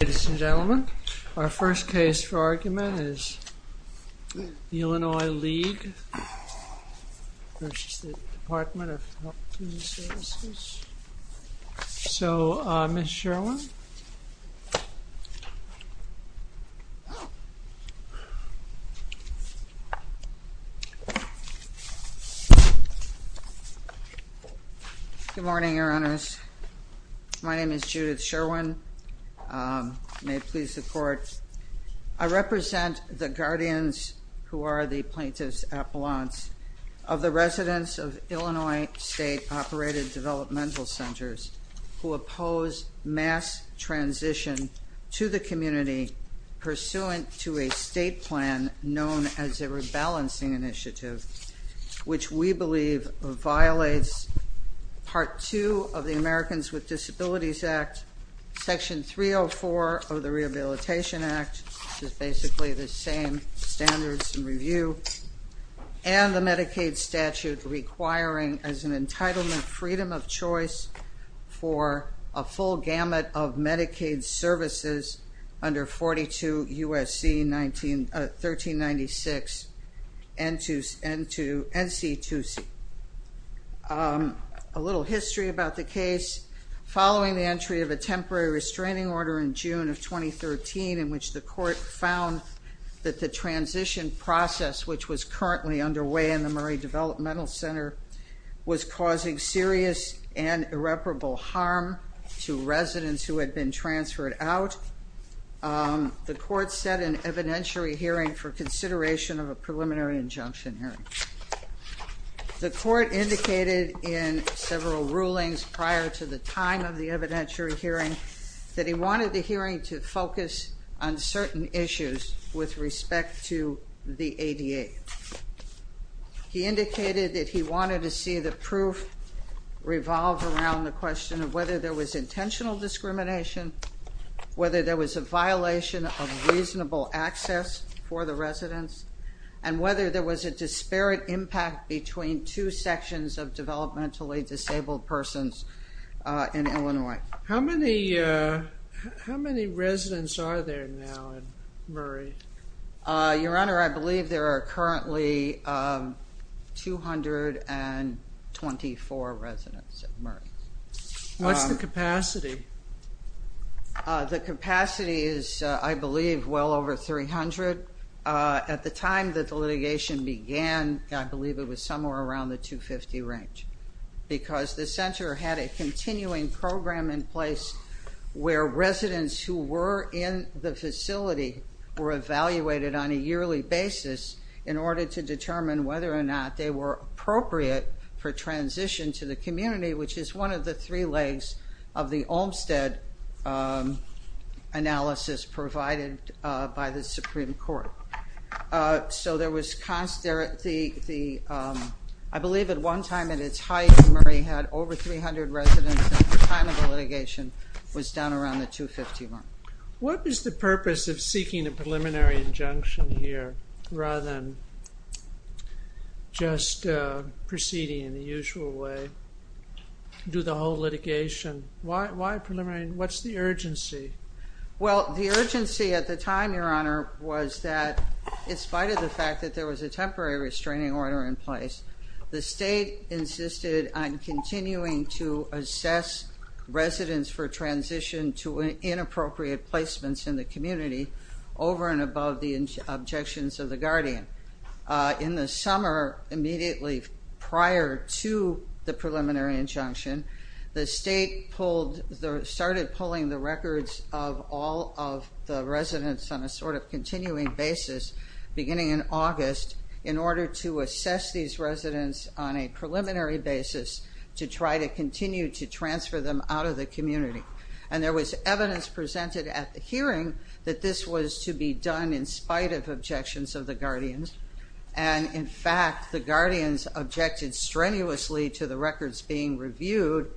Ladies and gentlemen, our first case for argument is the Illinois League versus the Department of Health and Human Services. So, Ms. Sherwin. Good morning, your honors. My name is Judith Sherwin. May it please the court. I represent the guardians who are the plaintiffs' appellants of the residents of Illinois State Operated Developmental Centers who oppose mass transition to the community pursuant to a state plan known as a rebalancing initiative, which we believe violates Part 2 of the Americans with Disabilities Act, Section 304 of the Rehabilitation Act, which is basically the same standards and review, and the Medicaid statute requiring as an entitlement freedom of choice for a full gamut of Medicaid services under 42 U.S.C. 1396 N.C. 2C. A little history about the case. Following the entry of a temporary restraining order in June of 2013, in which the court found that the transition process, which was currently underway in the Murray Developmental Center, was causing serious and irreparable harm to residents who had been transferred out, the court set an evidentiary hearing for consideration of a preliminary injunction hearing. The court indicated in several rulings prior to the time of the evidentiary hearing that he wanted the hearing to focus on certain issues with respect to the ADA. He indicated that he wanted to see the proof revolve around the question of whether there was intentional discrimination, whether there was a violation of reasonable access for the residents, and whether there was a disparate impact between two sections of developmentally disabled persons in Illinois. How many residents are there now in Murray? Your Honor, I believe there are currently 224 residents in Murray. What's the capacity? The capacity is, I believe, well over 300. At the time that the litigation began, I believe it was somewhere around the 250 range, because the center had a continuing program in place where residents who were in the facility were evaluated on a yearly basis in order to determine whether or not they were appropriate for transition to the community, which is one of the three legs of the Olmstead analysis provided by the Supreme Court. I believe at one time at its height, Murray had over 300 residents at the time of the litigation. It was down around the 250 mark. What was the purpose of seeking a preliminary injunction here, rather than just proceeding in the usual way, do the whole litigation? Why preliminary? What's the urgency? Well, the urgency at the time, Your Honor, was that in spite of the fact that there was a temporary restraining order in place, the state insisted on continuing to assess residents for transition to inappropriate placements in the community over and above the objections of the guardian. In the summer, immediately prior to the preliminary injunction, the state started pulling the records of all of the residents on a sort of continuing basis, beginning in August, in order to assess these residents on a preliminary basis to try to continue to transfer them out of the community. There was evidence presented at the hearing that this was to be done in spite of objections of the guardians. In fact, the guardians objected strenuously to the records being reviewed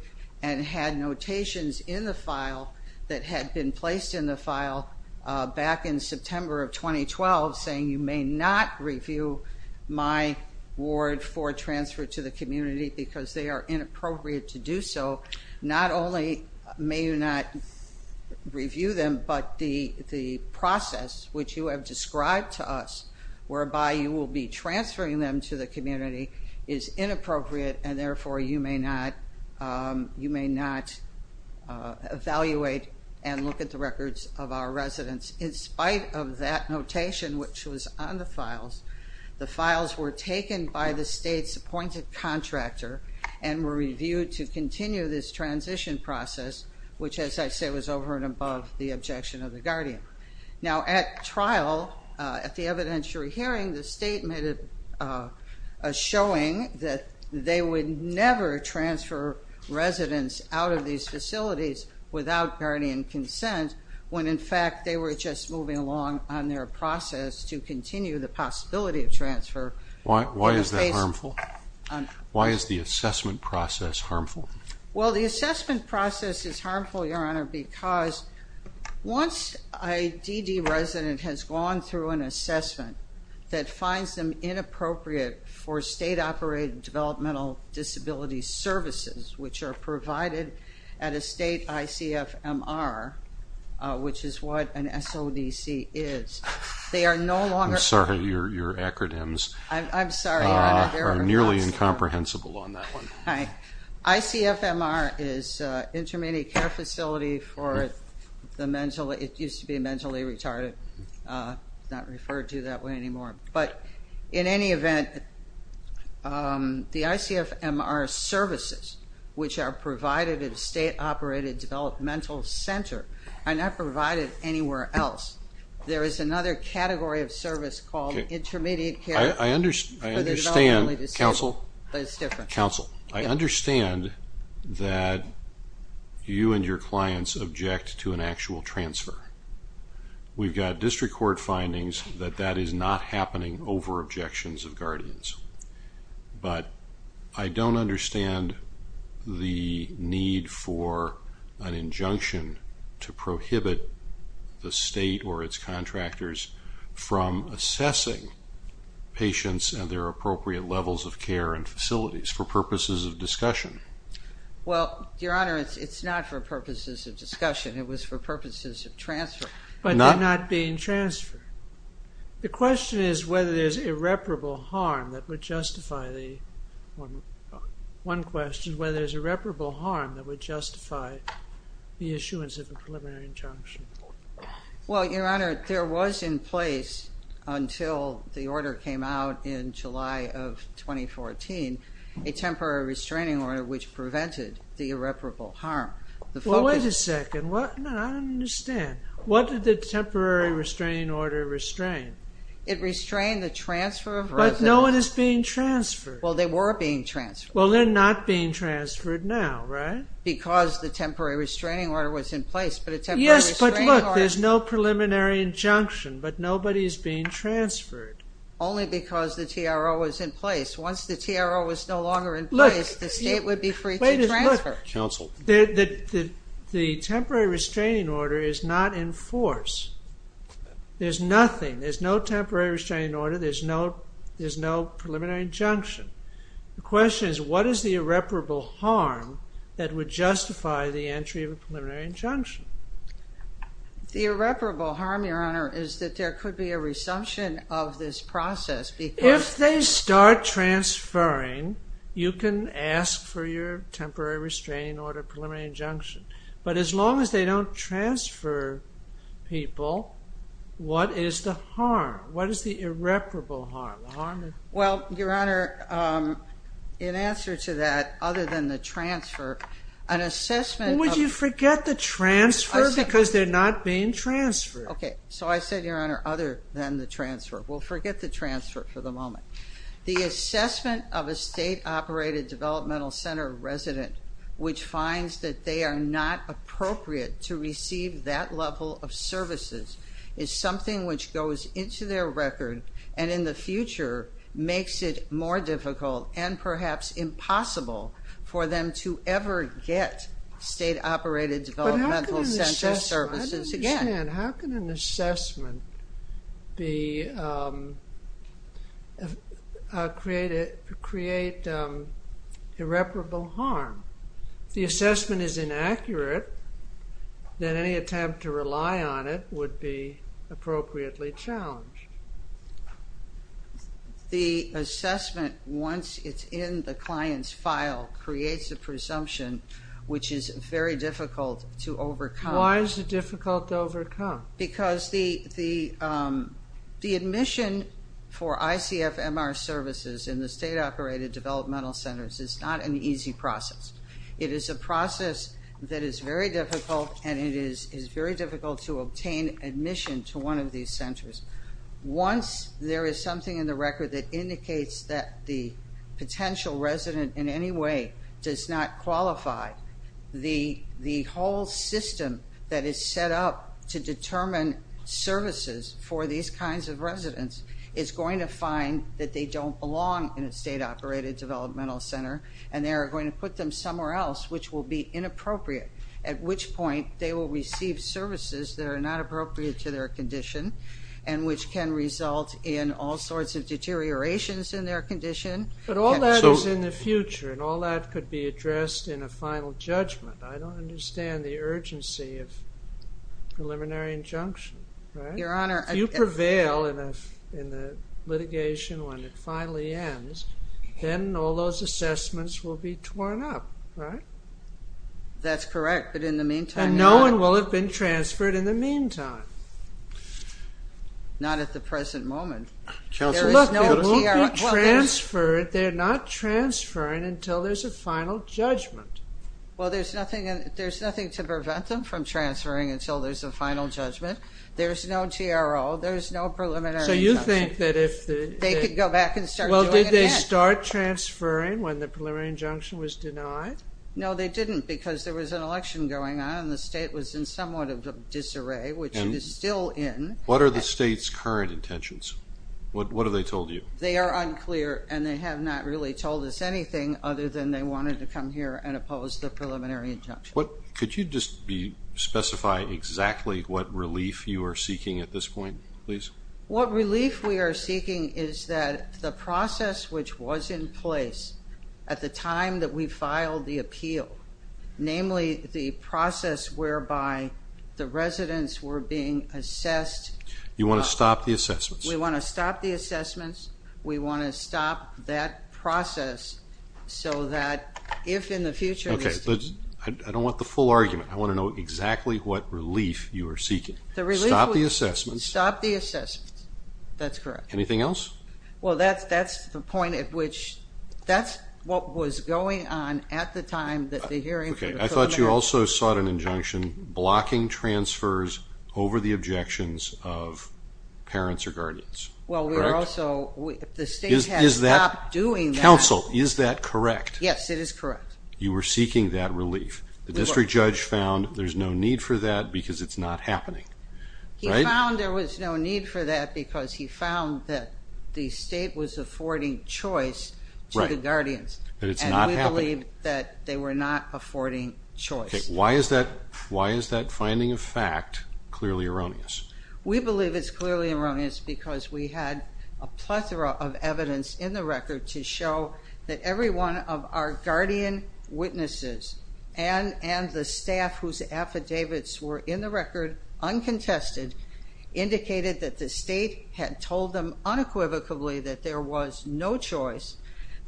and had notations in the file that had been placed in the file back in September of 2012 saying, you may not review my ward for transfer to the community because they are inappropriate to do so. Not only may you not review them, but the process which you have described to us, whereby you will be transferring them to the community, is inappropriate and therefore you may not evaluate and look at the records of our residents. In spite of that notation, which was on the files, the files were taken by the state's appointed contractor and were reviewed to continue this transition process, which as I say was over and above the objection of the guardian. Now at trial, at the evidentiary hearing, the state made a showing that they would never transfer residents out of these facilities without guardian consent when in fact they were just moving along on their process to continue the possibility of transfer. Why is that harmful? Why is the assessment process harmful? Well, the assessment process is harmful, Your Honor, because once a DD resident has gone through an assessment that finds them inappropriate for state-operated developmental disability services, which are provided at a state ICFMR, which is what an SODC is, they are no longer... I'm sorry, your acronyms are nearly incomprehensible on that one. ICFMR is Intermediate Care Facility for the mentally, it used to be Mentally Retarded, not referred to that way anymore, but in any event, the ICFMR services which are provided at a state-operated developmental center are not provided anywhere else. There is another category of service called Intermediate Care... I understand, counsel. Counsel, I understand that you and your clients object to an actual transfer. We've got district court findings that that is not happening over objections of guardians, but I don't understand the need for an injunction to prohibit the state or its contractors from assessing patients and their appropriate levels of care and facilities for purposes of discussion. Well, Your Honor, it's not for purposes of discussion, it was for purposes of transfer. But not being transferred. The question is whether there's irreparable harm that would justify the... One question, whether there's irreparable harm that would justify the issuance of a preliminary injunction. Well, Your Honor, there was in place, until the order came out in July of 2014, a temporary restraining order which prevented the irreparable harm. Well, wait a second, I don't understand. What did the temporary restraining order restrain? It restrained the transfer of residents... But no one is being transferred. Well, they were being transferred. Well, they're not being transferred now, right? Because the temporary restraining order was in place, but a temporary... Yes, but look, there's no preliminary injunction, but nobody is being transferred. Only because the TRO was in place. Once the TRO was no longer in place, the state would be free to transfer. Wait a minute, look. Counsel. The temporary restraining order is not in force. There's nothing, there's no temporary restraining order, there's no preliminary injunction. The question is, what is the irreparable harm that would justify the entry of a preliminary injunction? The irreparable harm, Your Honor, is that there could be a resumption of this process because... If they start transferring, you can ask for your temporary restraining order, preliminary injunction. But as long as they don't transfer people, what is the harm? What is the irreparable harm? Well, Your Honor, in answer to that, other than the transfer, an assessment... Would you forget the transfer because they're not being transferred? Okay, so I said, Your Honor, other than the transfer. We'll forget the transfer for the moment. The assessment of a state-operated developmental center resident which finds that they are not appropriate to receive that level of services is something which goes into their record and in the future makes it more difficult and perhaps impossible for them to ever get state-operated developmental center services again. But how can an assessment create irreparable harm? If the assessment is inaccurate, then any attempt to rely on it would be appropriately challenged. The assessment, once it's in the client's file, creates a presumption which is very difficult to overcome. Why is it difficult to overcome? Because the admission for ICFMR services in the state-operated developmental centers is not an easy process. It is a process that is very difficult, and it is very difficult to obtain admission to one of these centers. Once there is something in the record that indicates that the potential resident in any way does not qualify, the whole system that is set up to determine services for these kinds of residents is going to find that they don't belong in a state-operated developmental center and they are going to put them somewhere else which will be inappropriate, at which point they will receive services that are not appropriate to their condition and which can result in all sorts of deteriorations in their condition. But all that is in the future, and all that could be addressed in a final judgment. I don't understand the urgency of preliminary injunction. If you prevail in the litigation when it finally ends, then all those assessments will be torn up, right? That's correct, but in the meantime... And no one will have been transferred in the meantime. Not at the present moment. There is no... Look, no one will be transferred. They are not transferring until there is a final judgment. Well, there is nothing to prevent them from transferring until there is a final judgment. There is no TRO. There is no preliminary injunction. So you think that if... They could go back and start doing it again. Well, did they start transferring when the preliminary injunction was denied? No, they didn't because there was an election going on and the state was in somewhat of a disarray, which it is still in. What are the state's current intentions? What have they told you? They are unclear and they have not really told us anything other than they wanted to come here and oppose the preliminary injunction. Could you just specify exactly what relief you are seeking at this point, please? What relief we are seeking is that the process which was in place at the time that we filed the appeal, namely the process whereby the residents were being assessed... You want to stop the assessments. We want to stop the assessments. We want to stop that process so that if in the future... Okay, but I don't want the full argument. I want to know exactly what relief you are seeking. Stop the assessments. Stop the assessments. That's correct. Anything else? Well, that's the point at which that's what was going on at the time that the hearing for the preliminary... Okay, I thought you also sought an injunction blocking transfers over the objections of parents or guardians. Well, we were also... If the state had stopped doing that... Counsel, is that correct? Yes, it is correct. You were seeking that relief. The district judge found there's no need for that because it's not happening, right? He found there was no need for that because he found that the state was affording choice to the guardians. Right, but it's not happening. And we believe that they were not affording choice. Okay, why is that finding of fact clearly erroneous? We believe it's clearly erroneous because we had a plethora of evidence in the record to show that every one of our guardian witnesses and the staff whose affidavits were in the record uncontested indicated that the state had told them unequivocally that there was no choice,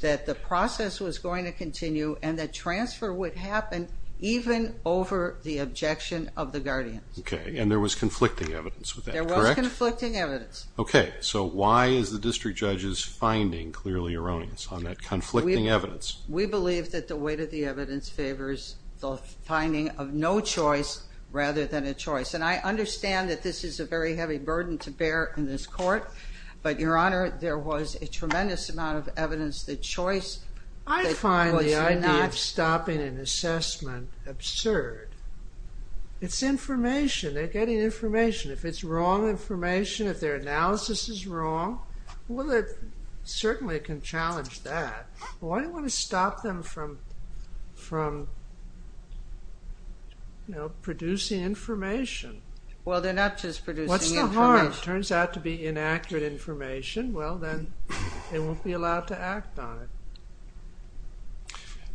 that the process was going to continue, and that transfer would happen even over the objection of the guardians. Okay, and there was conflicting evidence with that, correct? There was conflicting evidence. Okay, so why is the district judge's finding clearly erroneous on that conflicting evidence? We believe that the weight of the evidence favors the finding of no choice rather than a choice. And I understand that this is a very heavy burden to bear in this court, but, Your Honor, there was a tremendous amount of evidence that choice... I find the idea of stopping an assessment absurd. It's information. They're getting information. If it's wrong information, if their analysis is wrong, well, it certainly can challenge that. Why do you want to stop them from producing information? Well, they're not just producing information. What's the harm? It turns out to be inaccurate information. Well, then they won't be allowed to act on it.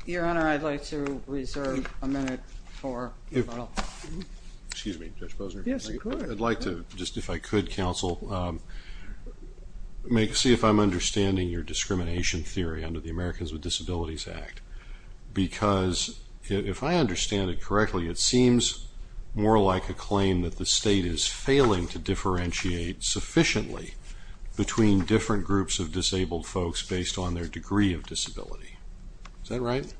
Your Honor, I'd like to reserve a minute for... Excuse me, Judge Posner. Yes, go ahead. I'd like to, just if I could, counsel, see if I'm understanding your discrimination theory under the Americans with Disabilities Act, because if I understand it correctly, it seems more like a claim that the state is failing to differentiate sufficiently between different groups of disabled folks based on their degree of disability. Is that right?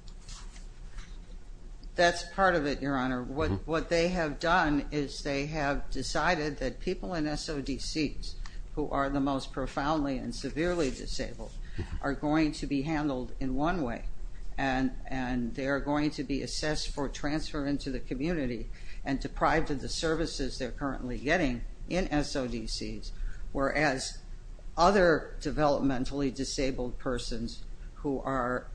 That's part of it, Your Honor. What they have done is they have decided that people in SODCs, who are the most profoundly and severely disabled, are going to be handled in one way, and they are going to be assessed for transfer into the community and deprived of the services they're currently getting in SODCs, whereas other developmentally disabled persons who are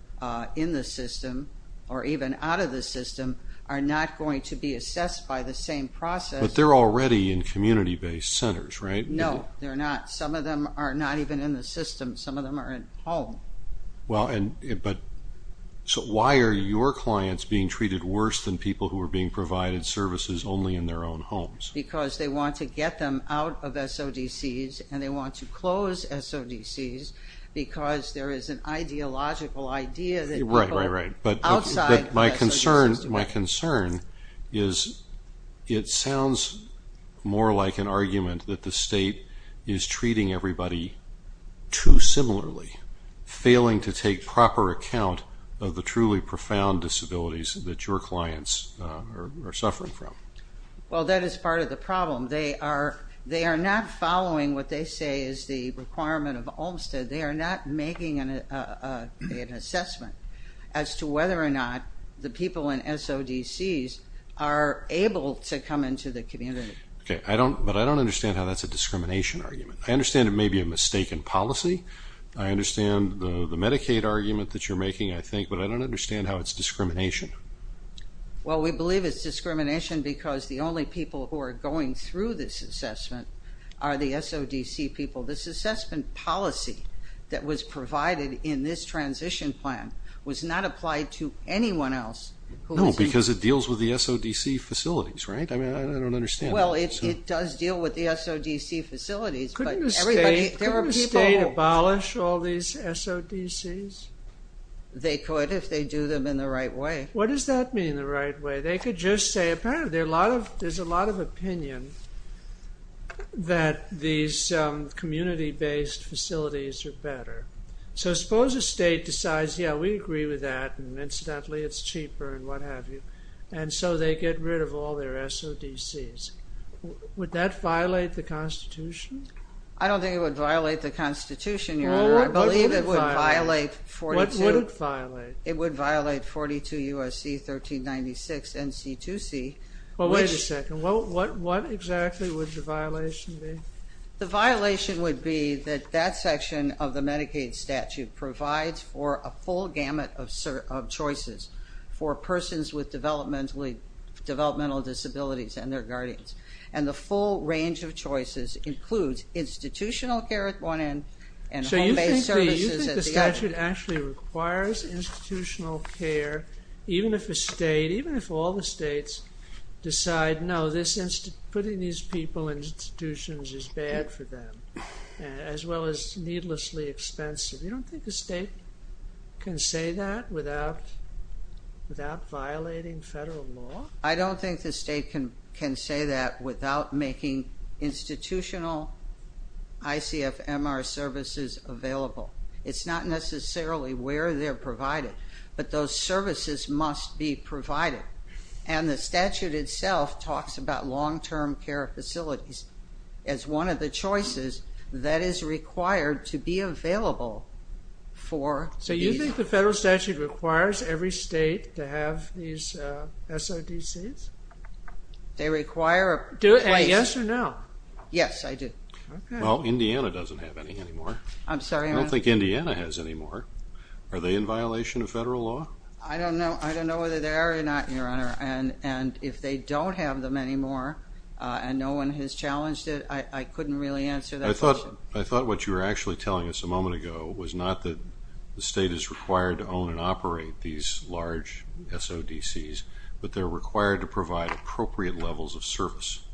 in the system or even out of the system are not going to be assessed by the same process. But they're already in community-based centers, right? No, they're not. Some of them are not even in the system. Some of them are at home. Well, but why are your clients being treated worse than people who are being provided services only in their own homes? Because they want to get them out of SODCs, and they want to close SODCs because there is an ideological idea that people outside of SODCs do. Right, right, right. But my concern is it sounds more like an argument that the state is treating everybody too similarly, failing to take proper account of the truly profound disabilities that your clients are suffering from. Well, that is part of the problem. They are not following what they say is the requirement of Olmstead. They are not making an assessment as to whether or not the people in SODCs are able to come into the community. Okay, but I don't understand how that's a discrimination argument. I understand it may be a mistaken policy. I understand the Medicaid argument that you're making, I think, but I don't understand how it's discrimination. Well, we believe it's discrimination because the only people who are going through this assessment are the SODC people. This assessment policy that was provided in this transition plan was not applied to anyone else. No, because it deals with the SODC facilities, right? I mean, I don't understand. Well, it does deal with the SODC facilities. Couldn't the state abolish all these SODCs? They could if they do them in the right way. What does that mean, the right way? They could just say apparently there's a lot of opinion that these community-based facilities are better. So suppose a state decides, yeah, we agree with that, and incidentally it's cheaper and what have you, and so they get rid of all their SODCs. Would that violate the Constitution? I don't think it would violate the Constitution, Your Honor. I believe it would violate 42. What would it violate? It would violate 42 U.S.C. 1396 N.C. 2C. Well, wait a second. What exactly would the violation be? The violation would be that that section of the Medicaid statute provides for a full gamut of choices for persons with developmental disabilities and their guardians, and the full range of choices includes institutional care at one end and home-based services at the other. So you think the statute actually requires institutional care even if a state, even if all the states decide, no, putting these people in institutions is bad for them as well as needlessly expensive. You don't think the state can say that without violating federal law? I don't think the state can say that without making institutional ICFMR services available. It's not necessarily where they're provided, but those services must be provided, and the statute itself talks about long-term care facilities as one of the choices that is required to be available for these. So you think the federal statute requires every state to have these SODCs? They require a place. Do you say yes or no? Yes, I do. Well, Indiana doesn't have any anymore. I'm sorry, Your Honor. I don't think Indiana has any more. Are they in violation of federal law? I don't know whether they are or not, Your Honor, and if they don't have them anymore and no one has challenged it, I couldn't really answer that question. I thought what you were actually telling us a moment ago was not that the state is required to own and operate these large SODCs, but they're required to provide appropriate levels of service,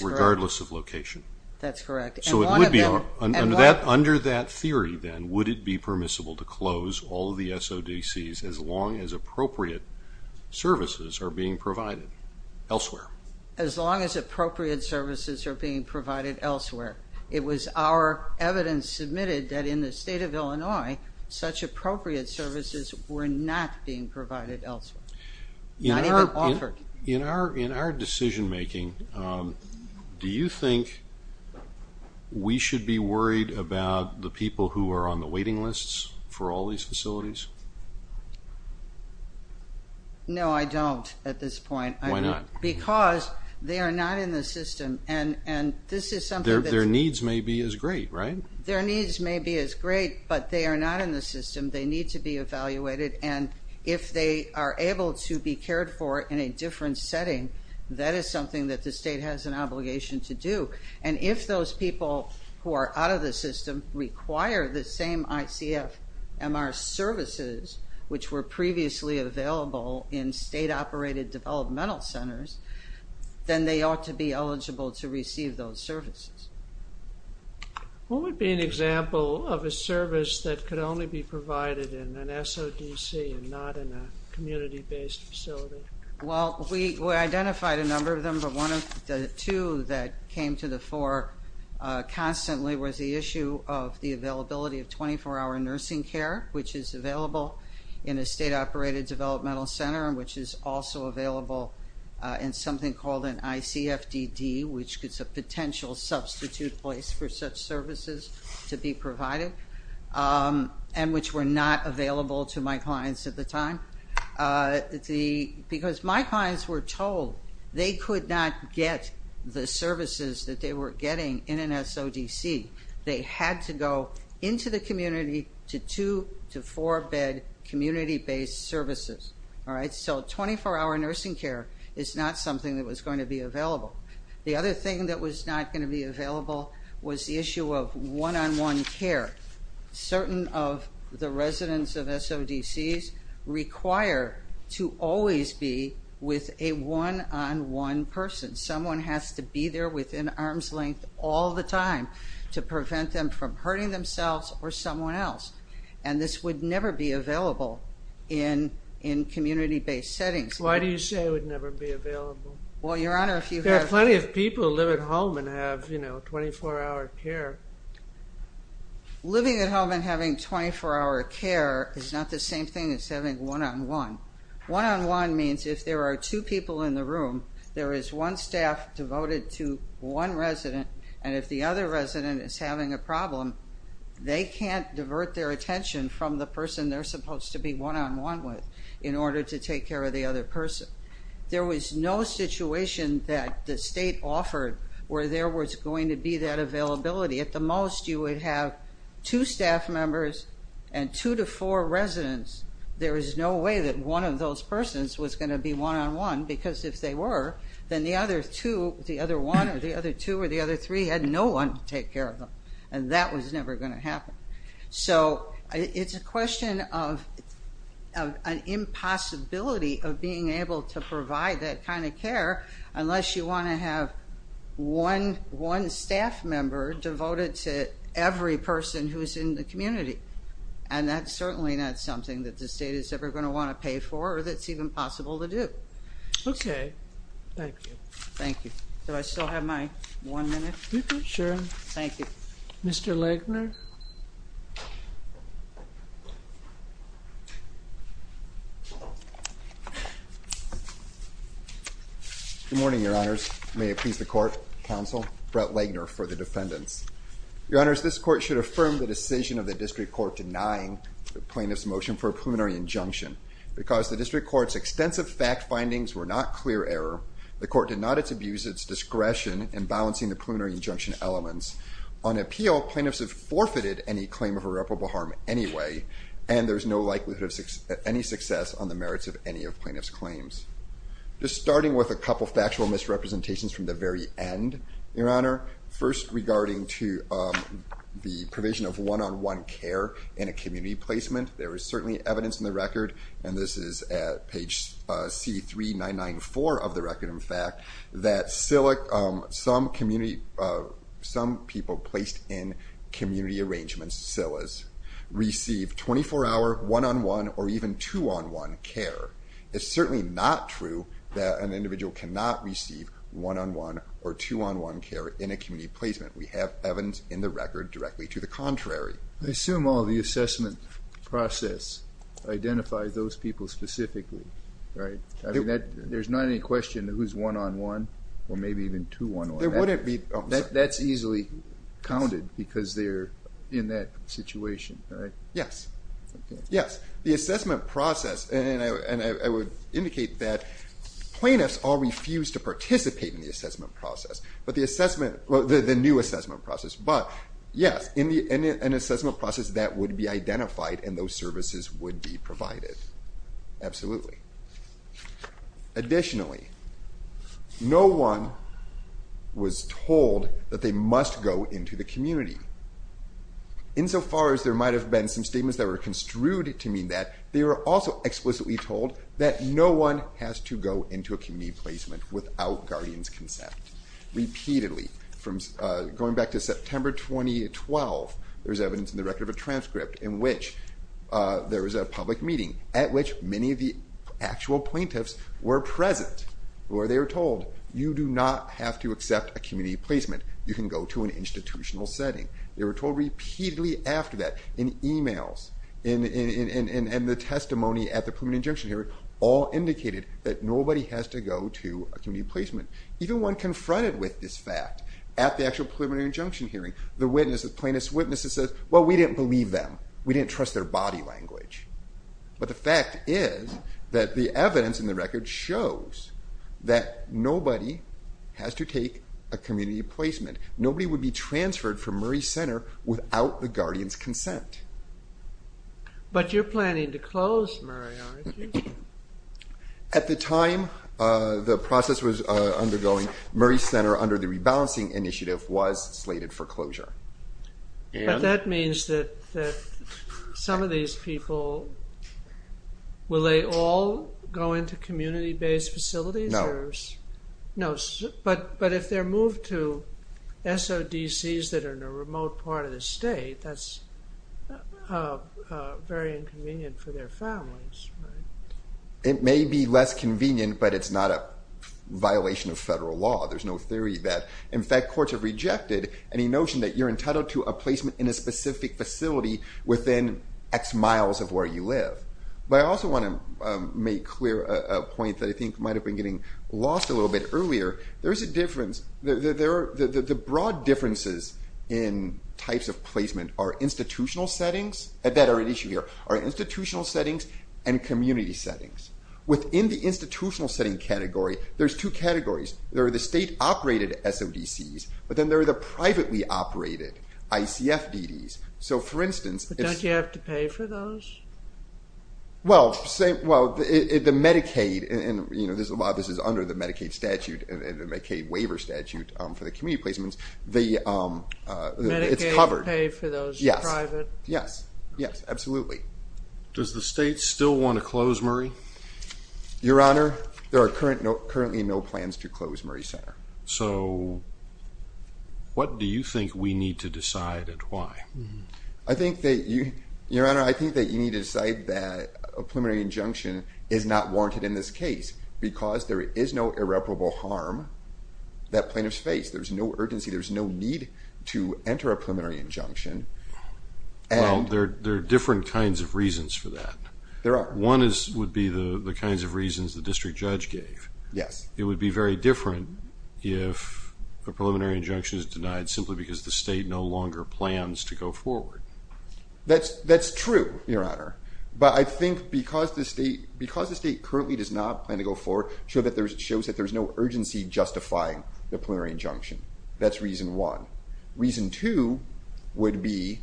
regardless of location. That's correct. Under that theory then, would it be permissible to close all of the SODCs as long as appropriate services are being provided elsewhere? As long as appropriate services are being provided elsewhere. It was our evidence submitted that in the state of Illinois, such appropriate services were not being provided elsewhere. Not even offered. In our decision-making, do you think we should be worried about the people who are on the waiting lists for all these facilities? No, I don't at this point. Why not? Because they are not in the system. Their needs may be as great, right? Their needs may be as great, but they are not in the system. They need to be evaluated. And if they are able to be cared for in a different setting, that is something that the state has an obligation to do. And if those people who are out of the system require the same ICFMR services, which were previously available in state-operated developmental centers, then they ought to be eligible to receive those services. What would be an example of a service that could only be provided in an SODC and not in a community-based facility? Well, we identified a number of them, but one of the two that came to the fore constantly was the issue of the availability of 24-hour nursing care, which is available in a state-operated developmental center and which is also available in something called an ICFDD, which is a potential substitute place for such services to be provided and which were not available to my clients at the time. Because my clients were told they could not get the services that they were getting in an SODC. They had to go into the community to two- to four-bed community-based services. So 24-hour nursing care is not something that was going to be available. The other thing that was not going to be available was the issue of one-on-one care. Certain of the residents of SODCs require to always be with a one-on-one person. Someone has to be there within arm's length all the time to prevent them from hurting themselves or someone else, and this would never be available in community-based settings. Why do you say it would never be available? There are plenty of people who live at home and have 24-hour care. Living at home and having 24-hour care is not the same thing as having one-on-one. One-on-one means if there are two people in the room, there is one staff devoted to one resident, and if the other resident is having a problem, they can't divert their attention from the person they're supposed to be one-on-one with in order to take care of the other person. There was no situation that the state offered where there was going to be that availability. At the most, you would have two staff members and two to four residents. There is no way that one of those persons was going to be one-on-one, because if they were, then the other two, the other one, or the other two, or the other three had no one to take care of them, and that was never going to happen. It's a question of an impossibility of being able to provide that kind of care unless you want to have one staff member devoted to every person who is in the community, and that's certainly not something that the state is ever going to want to pay for or that's even possible to do. Okay. Thank you. Thank you. Do I still have my one minute? Sure. Thank you. Mr. Legner? Good morning, Your Honors. May it please the court, counsel, Brett Legner for the defendants. Your Honors, this court should affirm the decision of the district court denying the plaintiff's motion for a preliminary injunction. Because the district court's extensive fact findings were not clear error, the court did not abuse its discretion in balancing the preliminary injunction elements. On appeal, plaintiffs have forfeited any claim of irreparable harm anyway, and there's no likelihood of any success on the merits of any of plaintiffs' claims. Just starting with a couple of factual misrepresentations from the very end, Your Honor, first regarding to the provision of one-on-one care in a community placement. There is certainly evidence in the record, and this is at page C3994 of the record, in fact, that some people placed in community arrangements, SILAs, receive 24-hour one-on-one or even two-on-one care. It's certainly not true that an individual cannot receive one-on-one or two-on-one care in a community placement. We have evidence in the record directly to the contrary. I assume all the assessment process identifies those people specifically, right? There's not any question who's one-on-one or maybe even two-on-one. That's easily counted because they're in that situation, right? Yes, yes. The assessment process, and I would indicate that plaintiffs all refuse to participate in the assessment process, the new assessment process, but yes, an assessment process that would be identified and those services would be provided. Absolutely. Additionally, no one was told that they must go into the community. Insofar as there might have been some statements that were construed to mean that, they were also explicitly told that no one has to go into a community placement without guardians' consent. Repeatedly, going back to September 2012, there's evidence in the record of a transcript in which there was a public meeting at which many of the actual plaintiffs were present where they were told, you do not have to accept a community placement. You can go to an institutional setting. They were told repeatedly after that in emails and the testimony at the preliminary injunction hearing all indicated that nobody has to go to a community placement. Even when confronted with this fact at the actual preliminary injunction hearing, the plaintiff's witness says, well, we didn't believe them. We didn't trust their body language. But the fact is that the evidence in the record shows that nobody has to take a community placement. Nobody would be transferred from Murray Center without the guardians' consent. But you're planning to close Murray, aren't you? At the time the process was undergoing, Murray Center under the rebalancing initiative was slated for closure. But that means that some of these people, will they all go into community-based facilities? No. No, but if they're moved to SODCs that are in a remote part of the state, that's very inconvenient for their families, right? It may be less convenient, but it's not a violation of federal law. There's no theory that. In fact, courts have rejected any notion that you're entitled to a placement in a specific facility within X miles of where you live. But I also want to make clear a point that I think might have been getting lost a little bit earlier. There is a difference. The broad differences in types of placement are institutional settings, that are an issue here, are institutional settings and community settings. Within the institutional setting category, there's two categories. There are the state-operated SODCs, but then there are the privately-operated ICFDDs. But don't you have to pay for those? Well, the Medicaid, and this is under the Medicaid statute, the Medicaid waiver statute for the community placements, it's covered. Medicaid will pay for those private? Yes, yes, absolutely. Does the state still want to close Murray? Your Honor, there are currently no plans to close Murray Center. So what do you think we need to decide and why? Your Honor, I think that you need to decide that a preliminary injunction is not warranted in this case because there is no irreparable harm that plaintiffs face. There's no urgency. There's no need to enter a preliminary injunction. Well, there are different kinds of reasons for that. There are. One would be the kinds of reasons the district judge gave. It would be very different if a preliminary injunction is denied simply because the state no longer plans to go forward. That's true, Your Honor. But I think because the state currently does not plan to go forward, shows that there's no urgency justifying the preliminary injunction. That's reason one. Reason two would be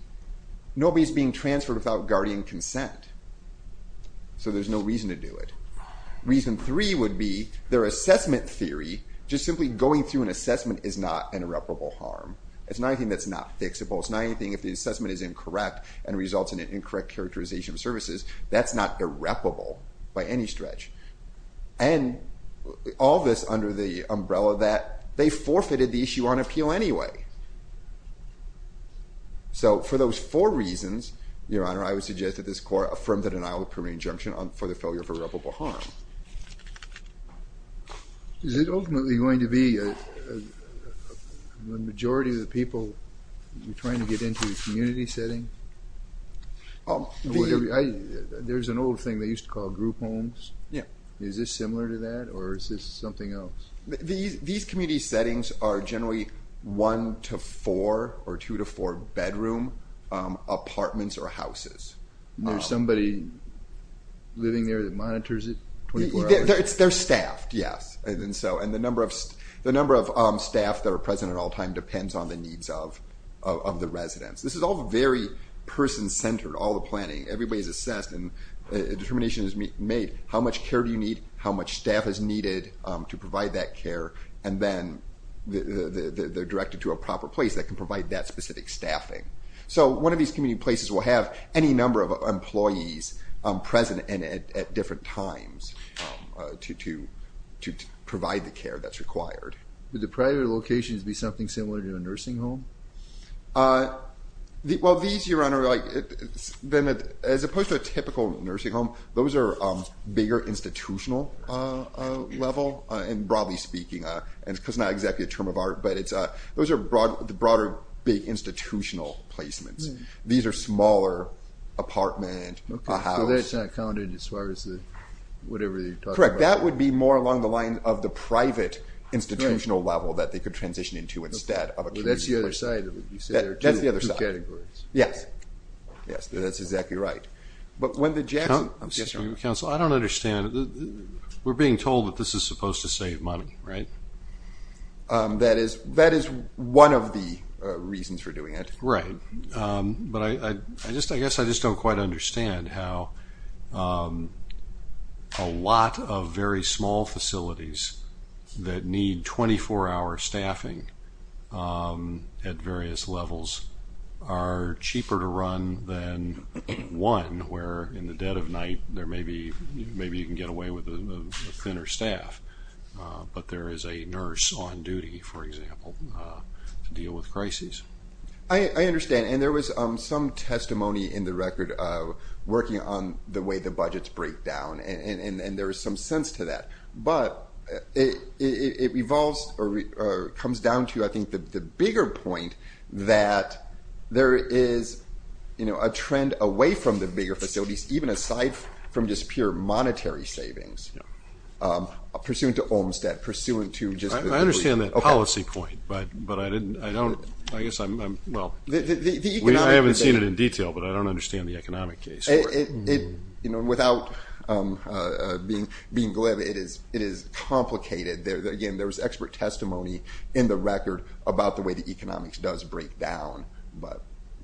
nobody's being transferred without guardian consent, so there's no reason to do it. Reason three would be their assessment theory, just simply going through an assessment is not an irreparable harm. It's not anything that's not fixable. It's not anything if the assessment is incorrect and results in an incorrect characterization of services. That's not irreparable by any stretch. And all this under the umbrella that they forfeited the issue on appeal anyway. So for those four reasons, Your Honor, I would suggest that this Court affirm the denial of the preliminary injunction for the failure of irreparable harm. Is it ultimately going to be the majority of the people trying to get into the community setting? There's an old thing they used to call group homes. Is this similar to that, or is this something else? These community settings are generally one to four or two to four bedroom apartments or houses. There's somebody living there that monitors it 24 hours a day? They're staffed, yes. And the number of staff that are present at all times depends on the needs of the residents. This is all very person-centered, all the planning. Everybody's assessed and a determination is made. How much care do you need? How much staff is needed to provide that care? And then they're directed to a proper place that can provide that specific staffing. So one of these community places will have any number of employees present and at different times to provide the care that's required. Would the private locations be something similar to a nursing home? Well, these, Your Honor, as opposed to a typical nursing home, those are bigger institutional level. And broadly speaking, because it's not exactly a term of art, but those are the broader big institutional placements. These are smaller apartment, a house. So that's not counted as far as whatever you're talking about? Correct. That would be more along the lines of the private institutional level that they could transition into instead of a community. Well, that's the other side of it. You said there are two categories. That's the other side. Yes. Yes. That's exactly right. But when the Jackson – Counsel, I don't understand. We're being told that this is supposed to save money, right? That is one of the reasons for doing it. Right. But I guess I just don't quite understand how a lot of very small facilities that need 24-hour staffing at various levels are cheaper to run than one where in the dead of night there may be – maybe you can get away with a thinner staff, but there is a nurse on duty, for example, to deal with crises. I understand. And there was some testimony in the record working on the way the budgets break down, and there was some sense to that. But it comes down to, I think, the bigger point that there is a trend away from the bigger facilities, even aside from just pure monetary savings, pursuant to Olmstead, pursuant to just – I understand that policy point, but I don't – I guess I'm – well, I haven't seen it in detail, but I don't understand the economic case. Without being glib, it is complicated. Again, there was expert testimony in the record about the way the economics does break down. But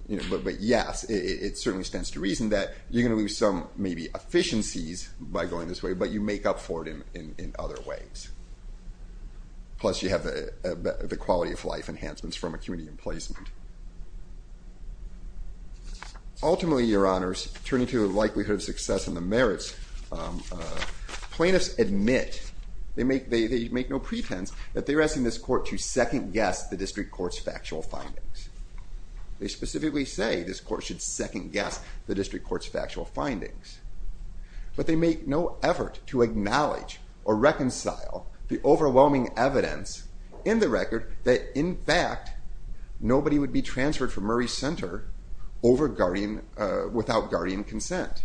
yes, it certainly stands to reason that you're going to lose some maybe efficiencies by going this way, but you make up for it in other ways. Plus you have the quality of life enhancements from a community emplacement. Ultimately, Your Honors, turning to the likelihood of success and the merits, plaintiffs admit – they make no pretense that they're asking this court to second-guess the district court's factual findings. They specifically say this court should second-guess the district court's factual findings. But they make no effort to acknowledge or reconcile the overwhelming evidence in the record that, in fact, nobody would be transferred from Murray Center without guardian consent.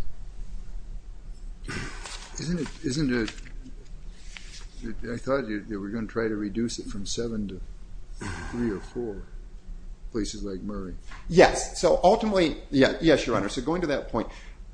Isn't it – I thought you were going to try to reduce it from seven to three or four places like Murray. Yes. So ultimately – yes, Your Honor. So going to that point,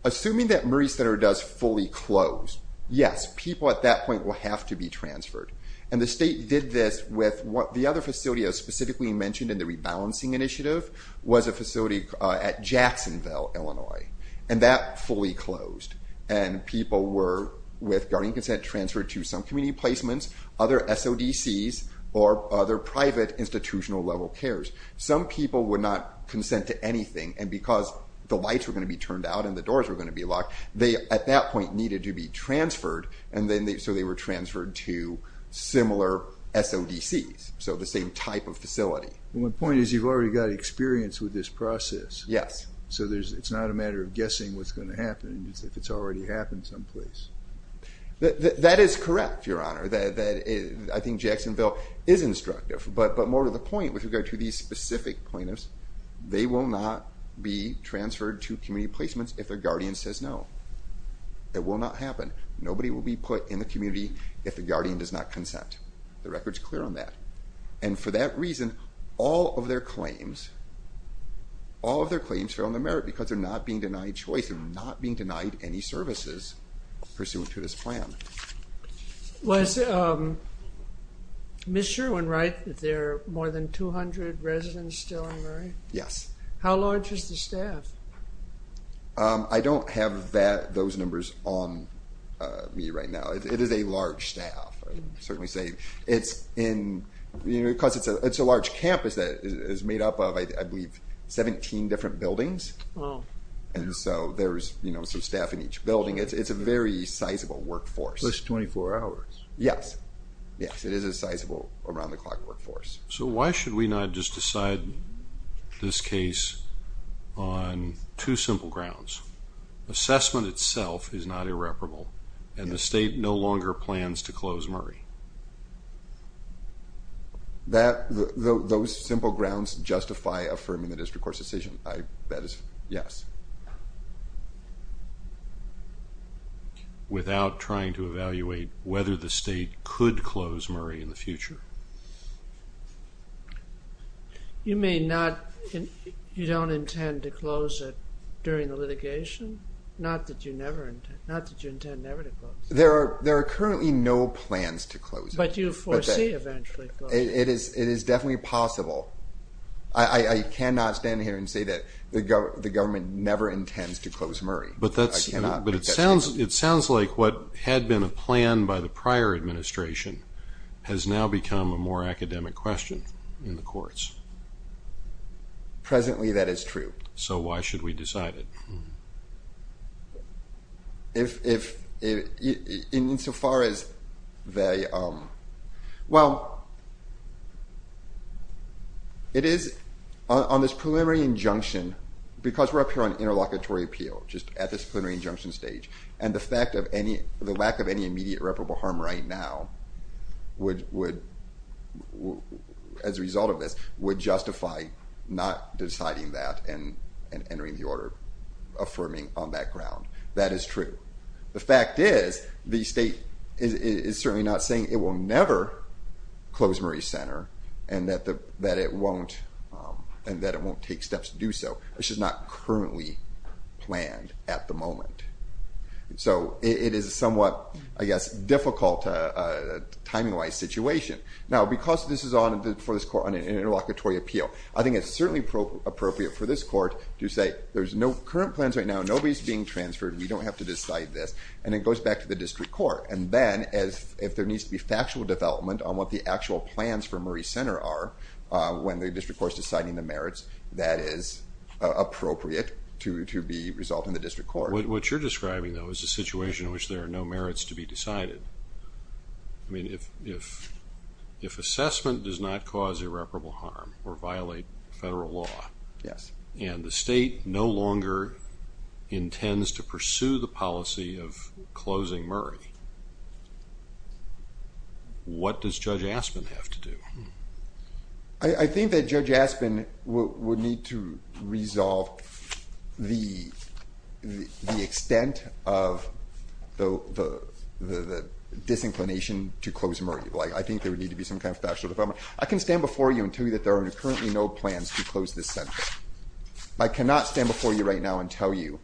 assuming that Murray Center does fully close, yes, people at that point will have to be transferred. And the state did this with – the other facility I specifically mentioned in the rebalancing initiative was a facility at Jacksonville, Illinois. And that fully closed. And people were, with guardian consent, transferred to some community placements, other SODCs, or other private institutional-level cares. Some people would not consent to anything. And because the lights were going to be turned out and the doors were going to be locked, they, at that point, needed to be transferred. So they were transferred to similar SODCs, so the same type of facility. My point is you've already got experience with this process. Yes. So it's not a matter of guessing what's going to happen. It's if it's already happened someplace. That is correct, Your Honor. I think Jacksonville is instructive. But more to the point, with regard to these specific plaintiffs, they will not be transferred to community placements if their guardian says no. It will not happen. Nobody will be put in the community if the guardian does not consent. The record's clear on that. And for that reason, all of their claims, all of their claims fail in the merit because they're not being denied choice. They're not being denied any services pursuant to this plan. Was Ms. Sherwin-Wright, that there are more than 200 residents still in Murray? Yes. How large is the staff? I don't have those numbers on me right now. It is a large staff. I can certainly say it's in, you know, because it's a large campus that is made up of, I believe, 17 different buildings. And so there's, you know, some staff in each building. It's a very sizable workforce. Plus 24 hours. Yes. Yes, it is a sizable around-the-clock workforce. So why should we not just decide this case on two simple grounds? Assessment itself is not irreparable, and the state no longer plans to close Murray. Those simple grounds justify affirming the district court's decision. That is, yes. Without trying to evaluate whether the state could close Murray in the future? You may not, you don't intend to close it during the litigation? Not that you never, not that you intend never to close it. There are currently no plans to close it. But you foresee eventually closing it. It is definitely possible. I cannot stand here and say that the government never intends to close Murray. I cannot. But it sounds like what had been a plan by the prior administration has now become a more academic question in the courts. Presently that is true. So why should we decide it? Insofar as they, well, it is on this preliminary injunction, because we're up here on interlocutory appeal, just at this preliminary injunction stage, and the fact of any, the lack of any immediate irreparable harm right now would, as a result of this, would justify not deciding that and entering the order affirming on that ground. That is true. The fact is the state is certainly not saying it will never close Murray Center and that it won't take steps to do so. It's just not currently planned at the moment. So it is a somewhat, I guess, difficult timing-wise situation. Now, because this is on, for this court, on an interlocutory appeal, I think it's certainly appropriate for this court to say, there's no current plans right now, nobody's being transferred, we don't have to decide this, and it goes back to the district court. And then if there needs to be factual development on what the actual plans for Murray Center are when the district court is deciding the merits, that is appropriate to the result in the district court. What you're describing, though, is a situation in which there are no merits to be decided. I mean, if assessment does not cause irreparable harm or violate federal law and the state no longer intends to pursue the policy of closing Murray, what does Judge Aspin have to do? I think that Judge Aspin would need to resolve the extent of the disinclination to close Murray. I think there would need to be some kind of factual development. I can stand before you and tell you that there are currently no plans to close this center. I cannot stand before you right now and tell you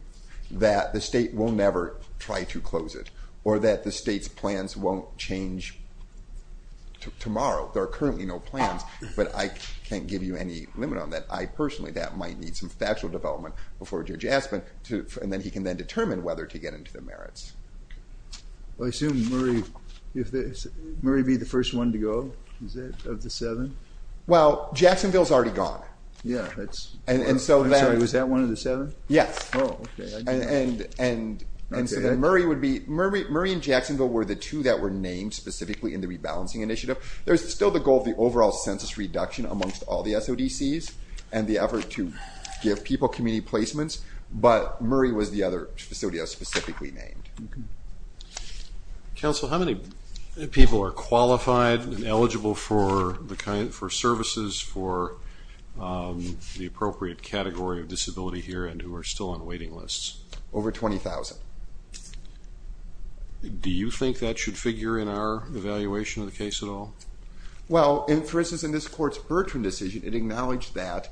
that the state will never try to close it or that the state's plans won't change tomorrow. There are currently no plans, but I can't give you any limit on that. I personally, that might need some factual development before Judge Aspin, and then he can then determine whether to get into the merits. I assume Murray would be the first one to go, is it, of the seven? Well, Jacksonville's already gone. Yeah. I'm sorry, was that one of the seven? Yes. Oh, okay. And so then Murray would be, Murray and Jacksonville were the two that were named specifically in the rebalancing initiative. There's still the goal of the overall census reduction amongst all the SODCs and the effort to give people community placements, but Murray was the other facility I specifically named. Okay. Counsel, how many people are qualified and eligible for services for the appropriate category of disability here and who are still on waiting lists? Over 20,000. Do you think that should figure in our evaluation of the case at all? Well, for instance, in this court's Bertrand decision, it acknowledged that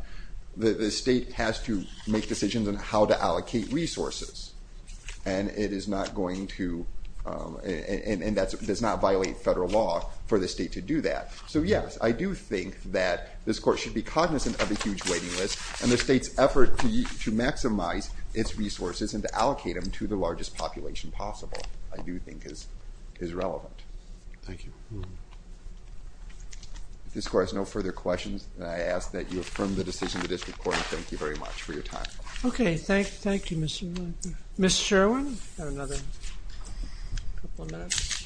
the state has to make decisions on how to allocate resources and it is not going to and does not violate federal law for the state to do that. So, yes, I do think that this court should be cognizant of a huge waiting list and the state's effort to maximize its resources and to allocate them to the largest population possible I do think is relevant. Thank you. If this court has no further questions, then I ask that you affirm the decision of the district court and thank you very much for your time. Okay. Thank you, Mr. Miller. Ms. Sherwin, you have another couple of minutes.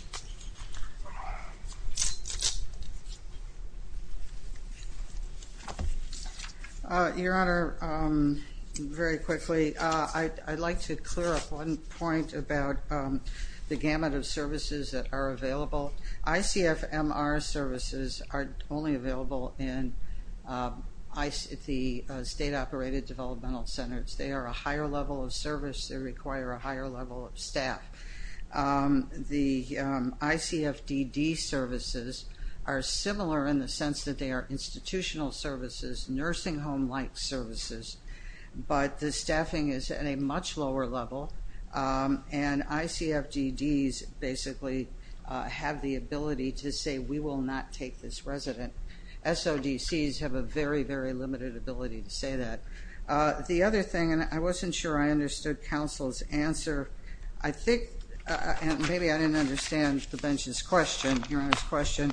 Your Honor, very quickly, I'd like to clear up one point about the gamut of services that are available. ICFMR services are only available at the state-operated developmental centers. They are a higher level of service. They require a higher level of staff. The ICFDD services are similar in the sense that they are institutional services, nursing home-like services, but the staffing is at a much lower level and ICFDDs basically have the ability to say we will not take this resident. SODCs have a very, very limited ability to say that. The other thing, and I wasn't sure I understood counsel's answer, I think, and maybe I didn't understand the bench's question, Your Honor's question,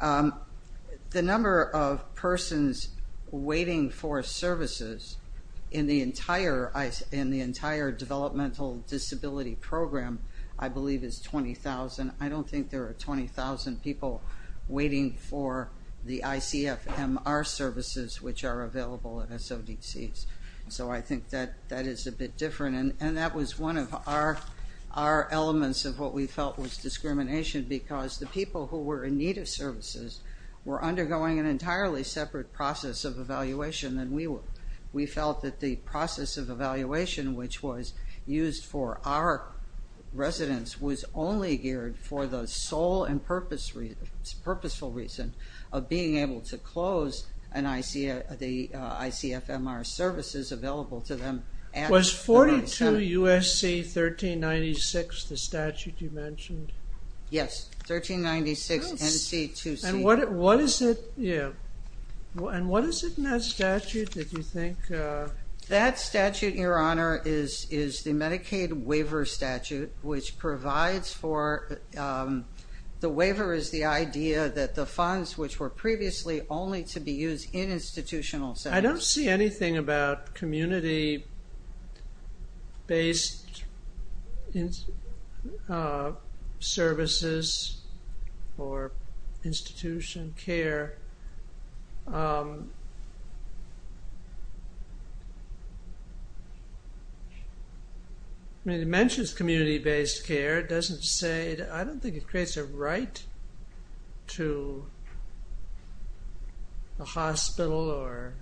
the number of persons waiting for services in the entire developmental disability program, I believe, is 20,000. I don't think there are 20,000 people waiting for the ICFMR services, which are available at SODCs. So I think that is a bit different, and that was one of our elements of what we felt was discrimination because the people who were in need of services were undergoing an entirely separate process of evaluation than we were. We felt that the process of evaluation which was used for our residents was only geared for the sole and purposeful reason of being able to close the ICFMR services available to them. Was 42 U.S.C. 1396 the statute you mentioned? Yes, 1396 NC2C. And what is it in that statute, did you think? That statute, Your Honor, is the Medicaid waiver statute, which provides for the waiver is the idea that the funds which were previously only to be used in institutional settings. I don't see anything about community-based services or institution care. It mentions community-based care. I don't think it creates a right to a hospital.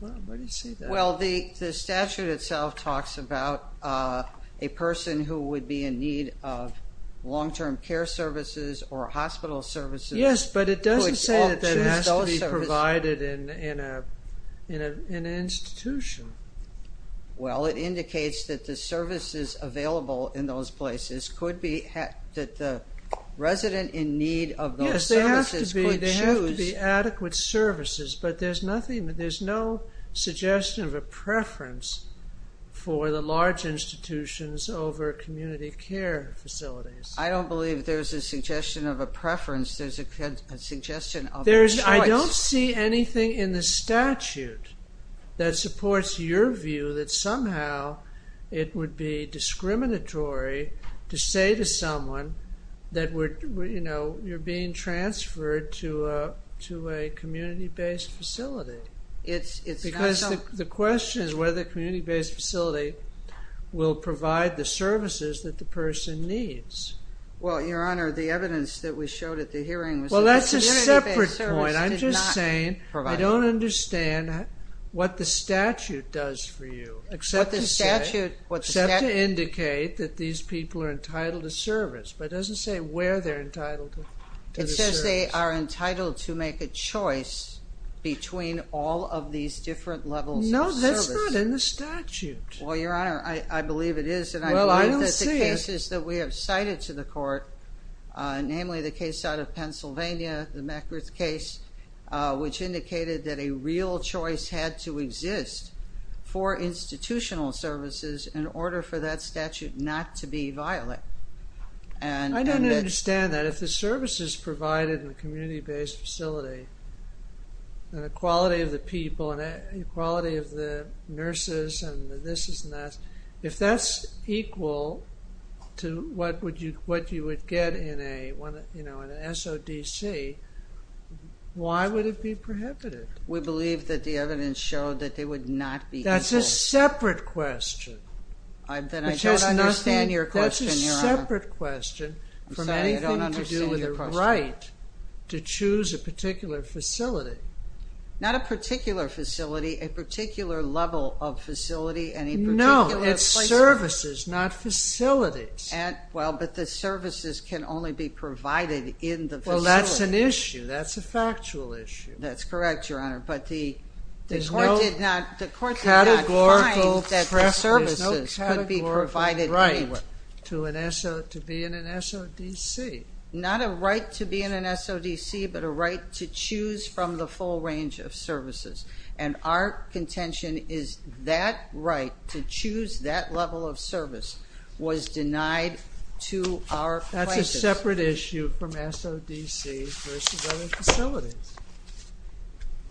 The statute itself talks about a person who would be in need of long-term care services or hospital services. Yes, but it doesn't say that it has to be provided in an institution. Well, it indicates that the services available in those places could be that the resident in need of those services could choose. Yes, they have to be adequate services, but there's no suggestion of a preference for the large institutions over community care facilities. I don't believe there's a suggestion of a preference. There's a suggestion of a choice. I don't see anything in the statute that supports your view that somehow it would be discriminatory to say to someone that you're being transferred to a community-based facility. Because the question is whether the community-based facility will provide the services that the person needs. Well, Your Honor, the evidence that we showed at the hearing was that the community-based service did not provide them. Well, that's a separate point. I'm just saying I don't understand what the statute does for you, except to indicate that these people are entitled to service, but it doesn't say where they're entitled to the service. It says they are entitled to make a choice between all of these different levels of service. No, that's not in the statute. Well, Your Honor, I believe it is, and I believe that the cases that we have cited to the court, namely the case out of Pennsylvania, the McGriff case, which indicated that a real choice had to exist for institutional services in order for that statute not to be violent. I don't understand that. If the services provided in a community-based facility, and the quality of the people and the quality of the nurses and the this-is-and-that's, if that's equal to what you would get in an SODC, why would it be prohibited? We believe that the evidence showed that they would not be equal. That's a separate question. Then I don't understand your question, Your Honor. That's a separate question from anything to do with the right to choose a particular facility. Not a particular facility, a particular level of facility, any particular place. No, it's services, not facilities. Well, but the services can only be provided in the facility. Well, that's an issue. That's a factual issue. That's correct, Your Honor, but the court did not find that the services could be provided anywhere. There's no categorical right to be in an SODC. Not a right to be in an SODC, but a right to choose from the full range of services, and our contention is that right to choose that level of service was denied to our plaintiffs. That's a separate issue from SODC versus other facilities,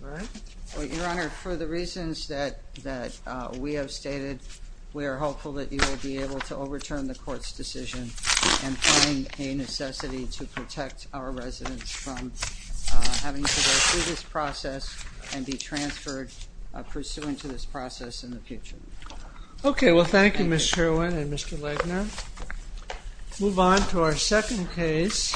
right? Well, Your Honor, for the reasons that we have stated, we are hopeful that you will be able to overturn the court's decision and find a necessity to protect our residents from having to go through this process and be transferred pursuant to this process in the future. Okay. Well, thank you, Ms. Sherwin and Mr. Legner. Let's move on to our second case.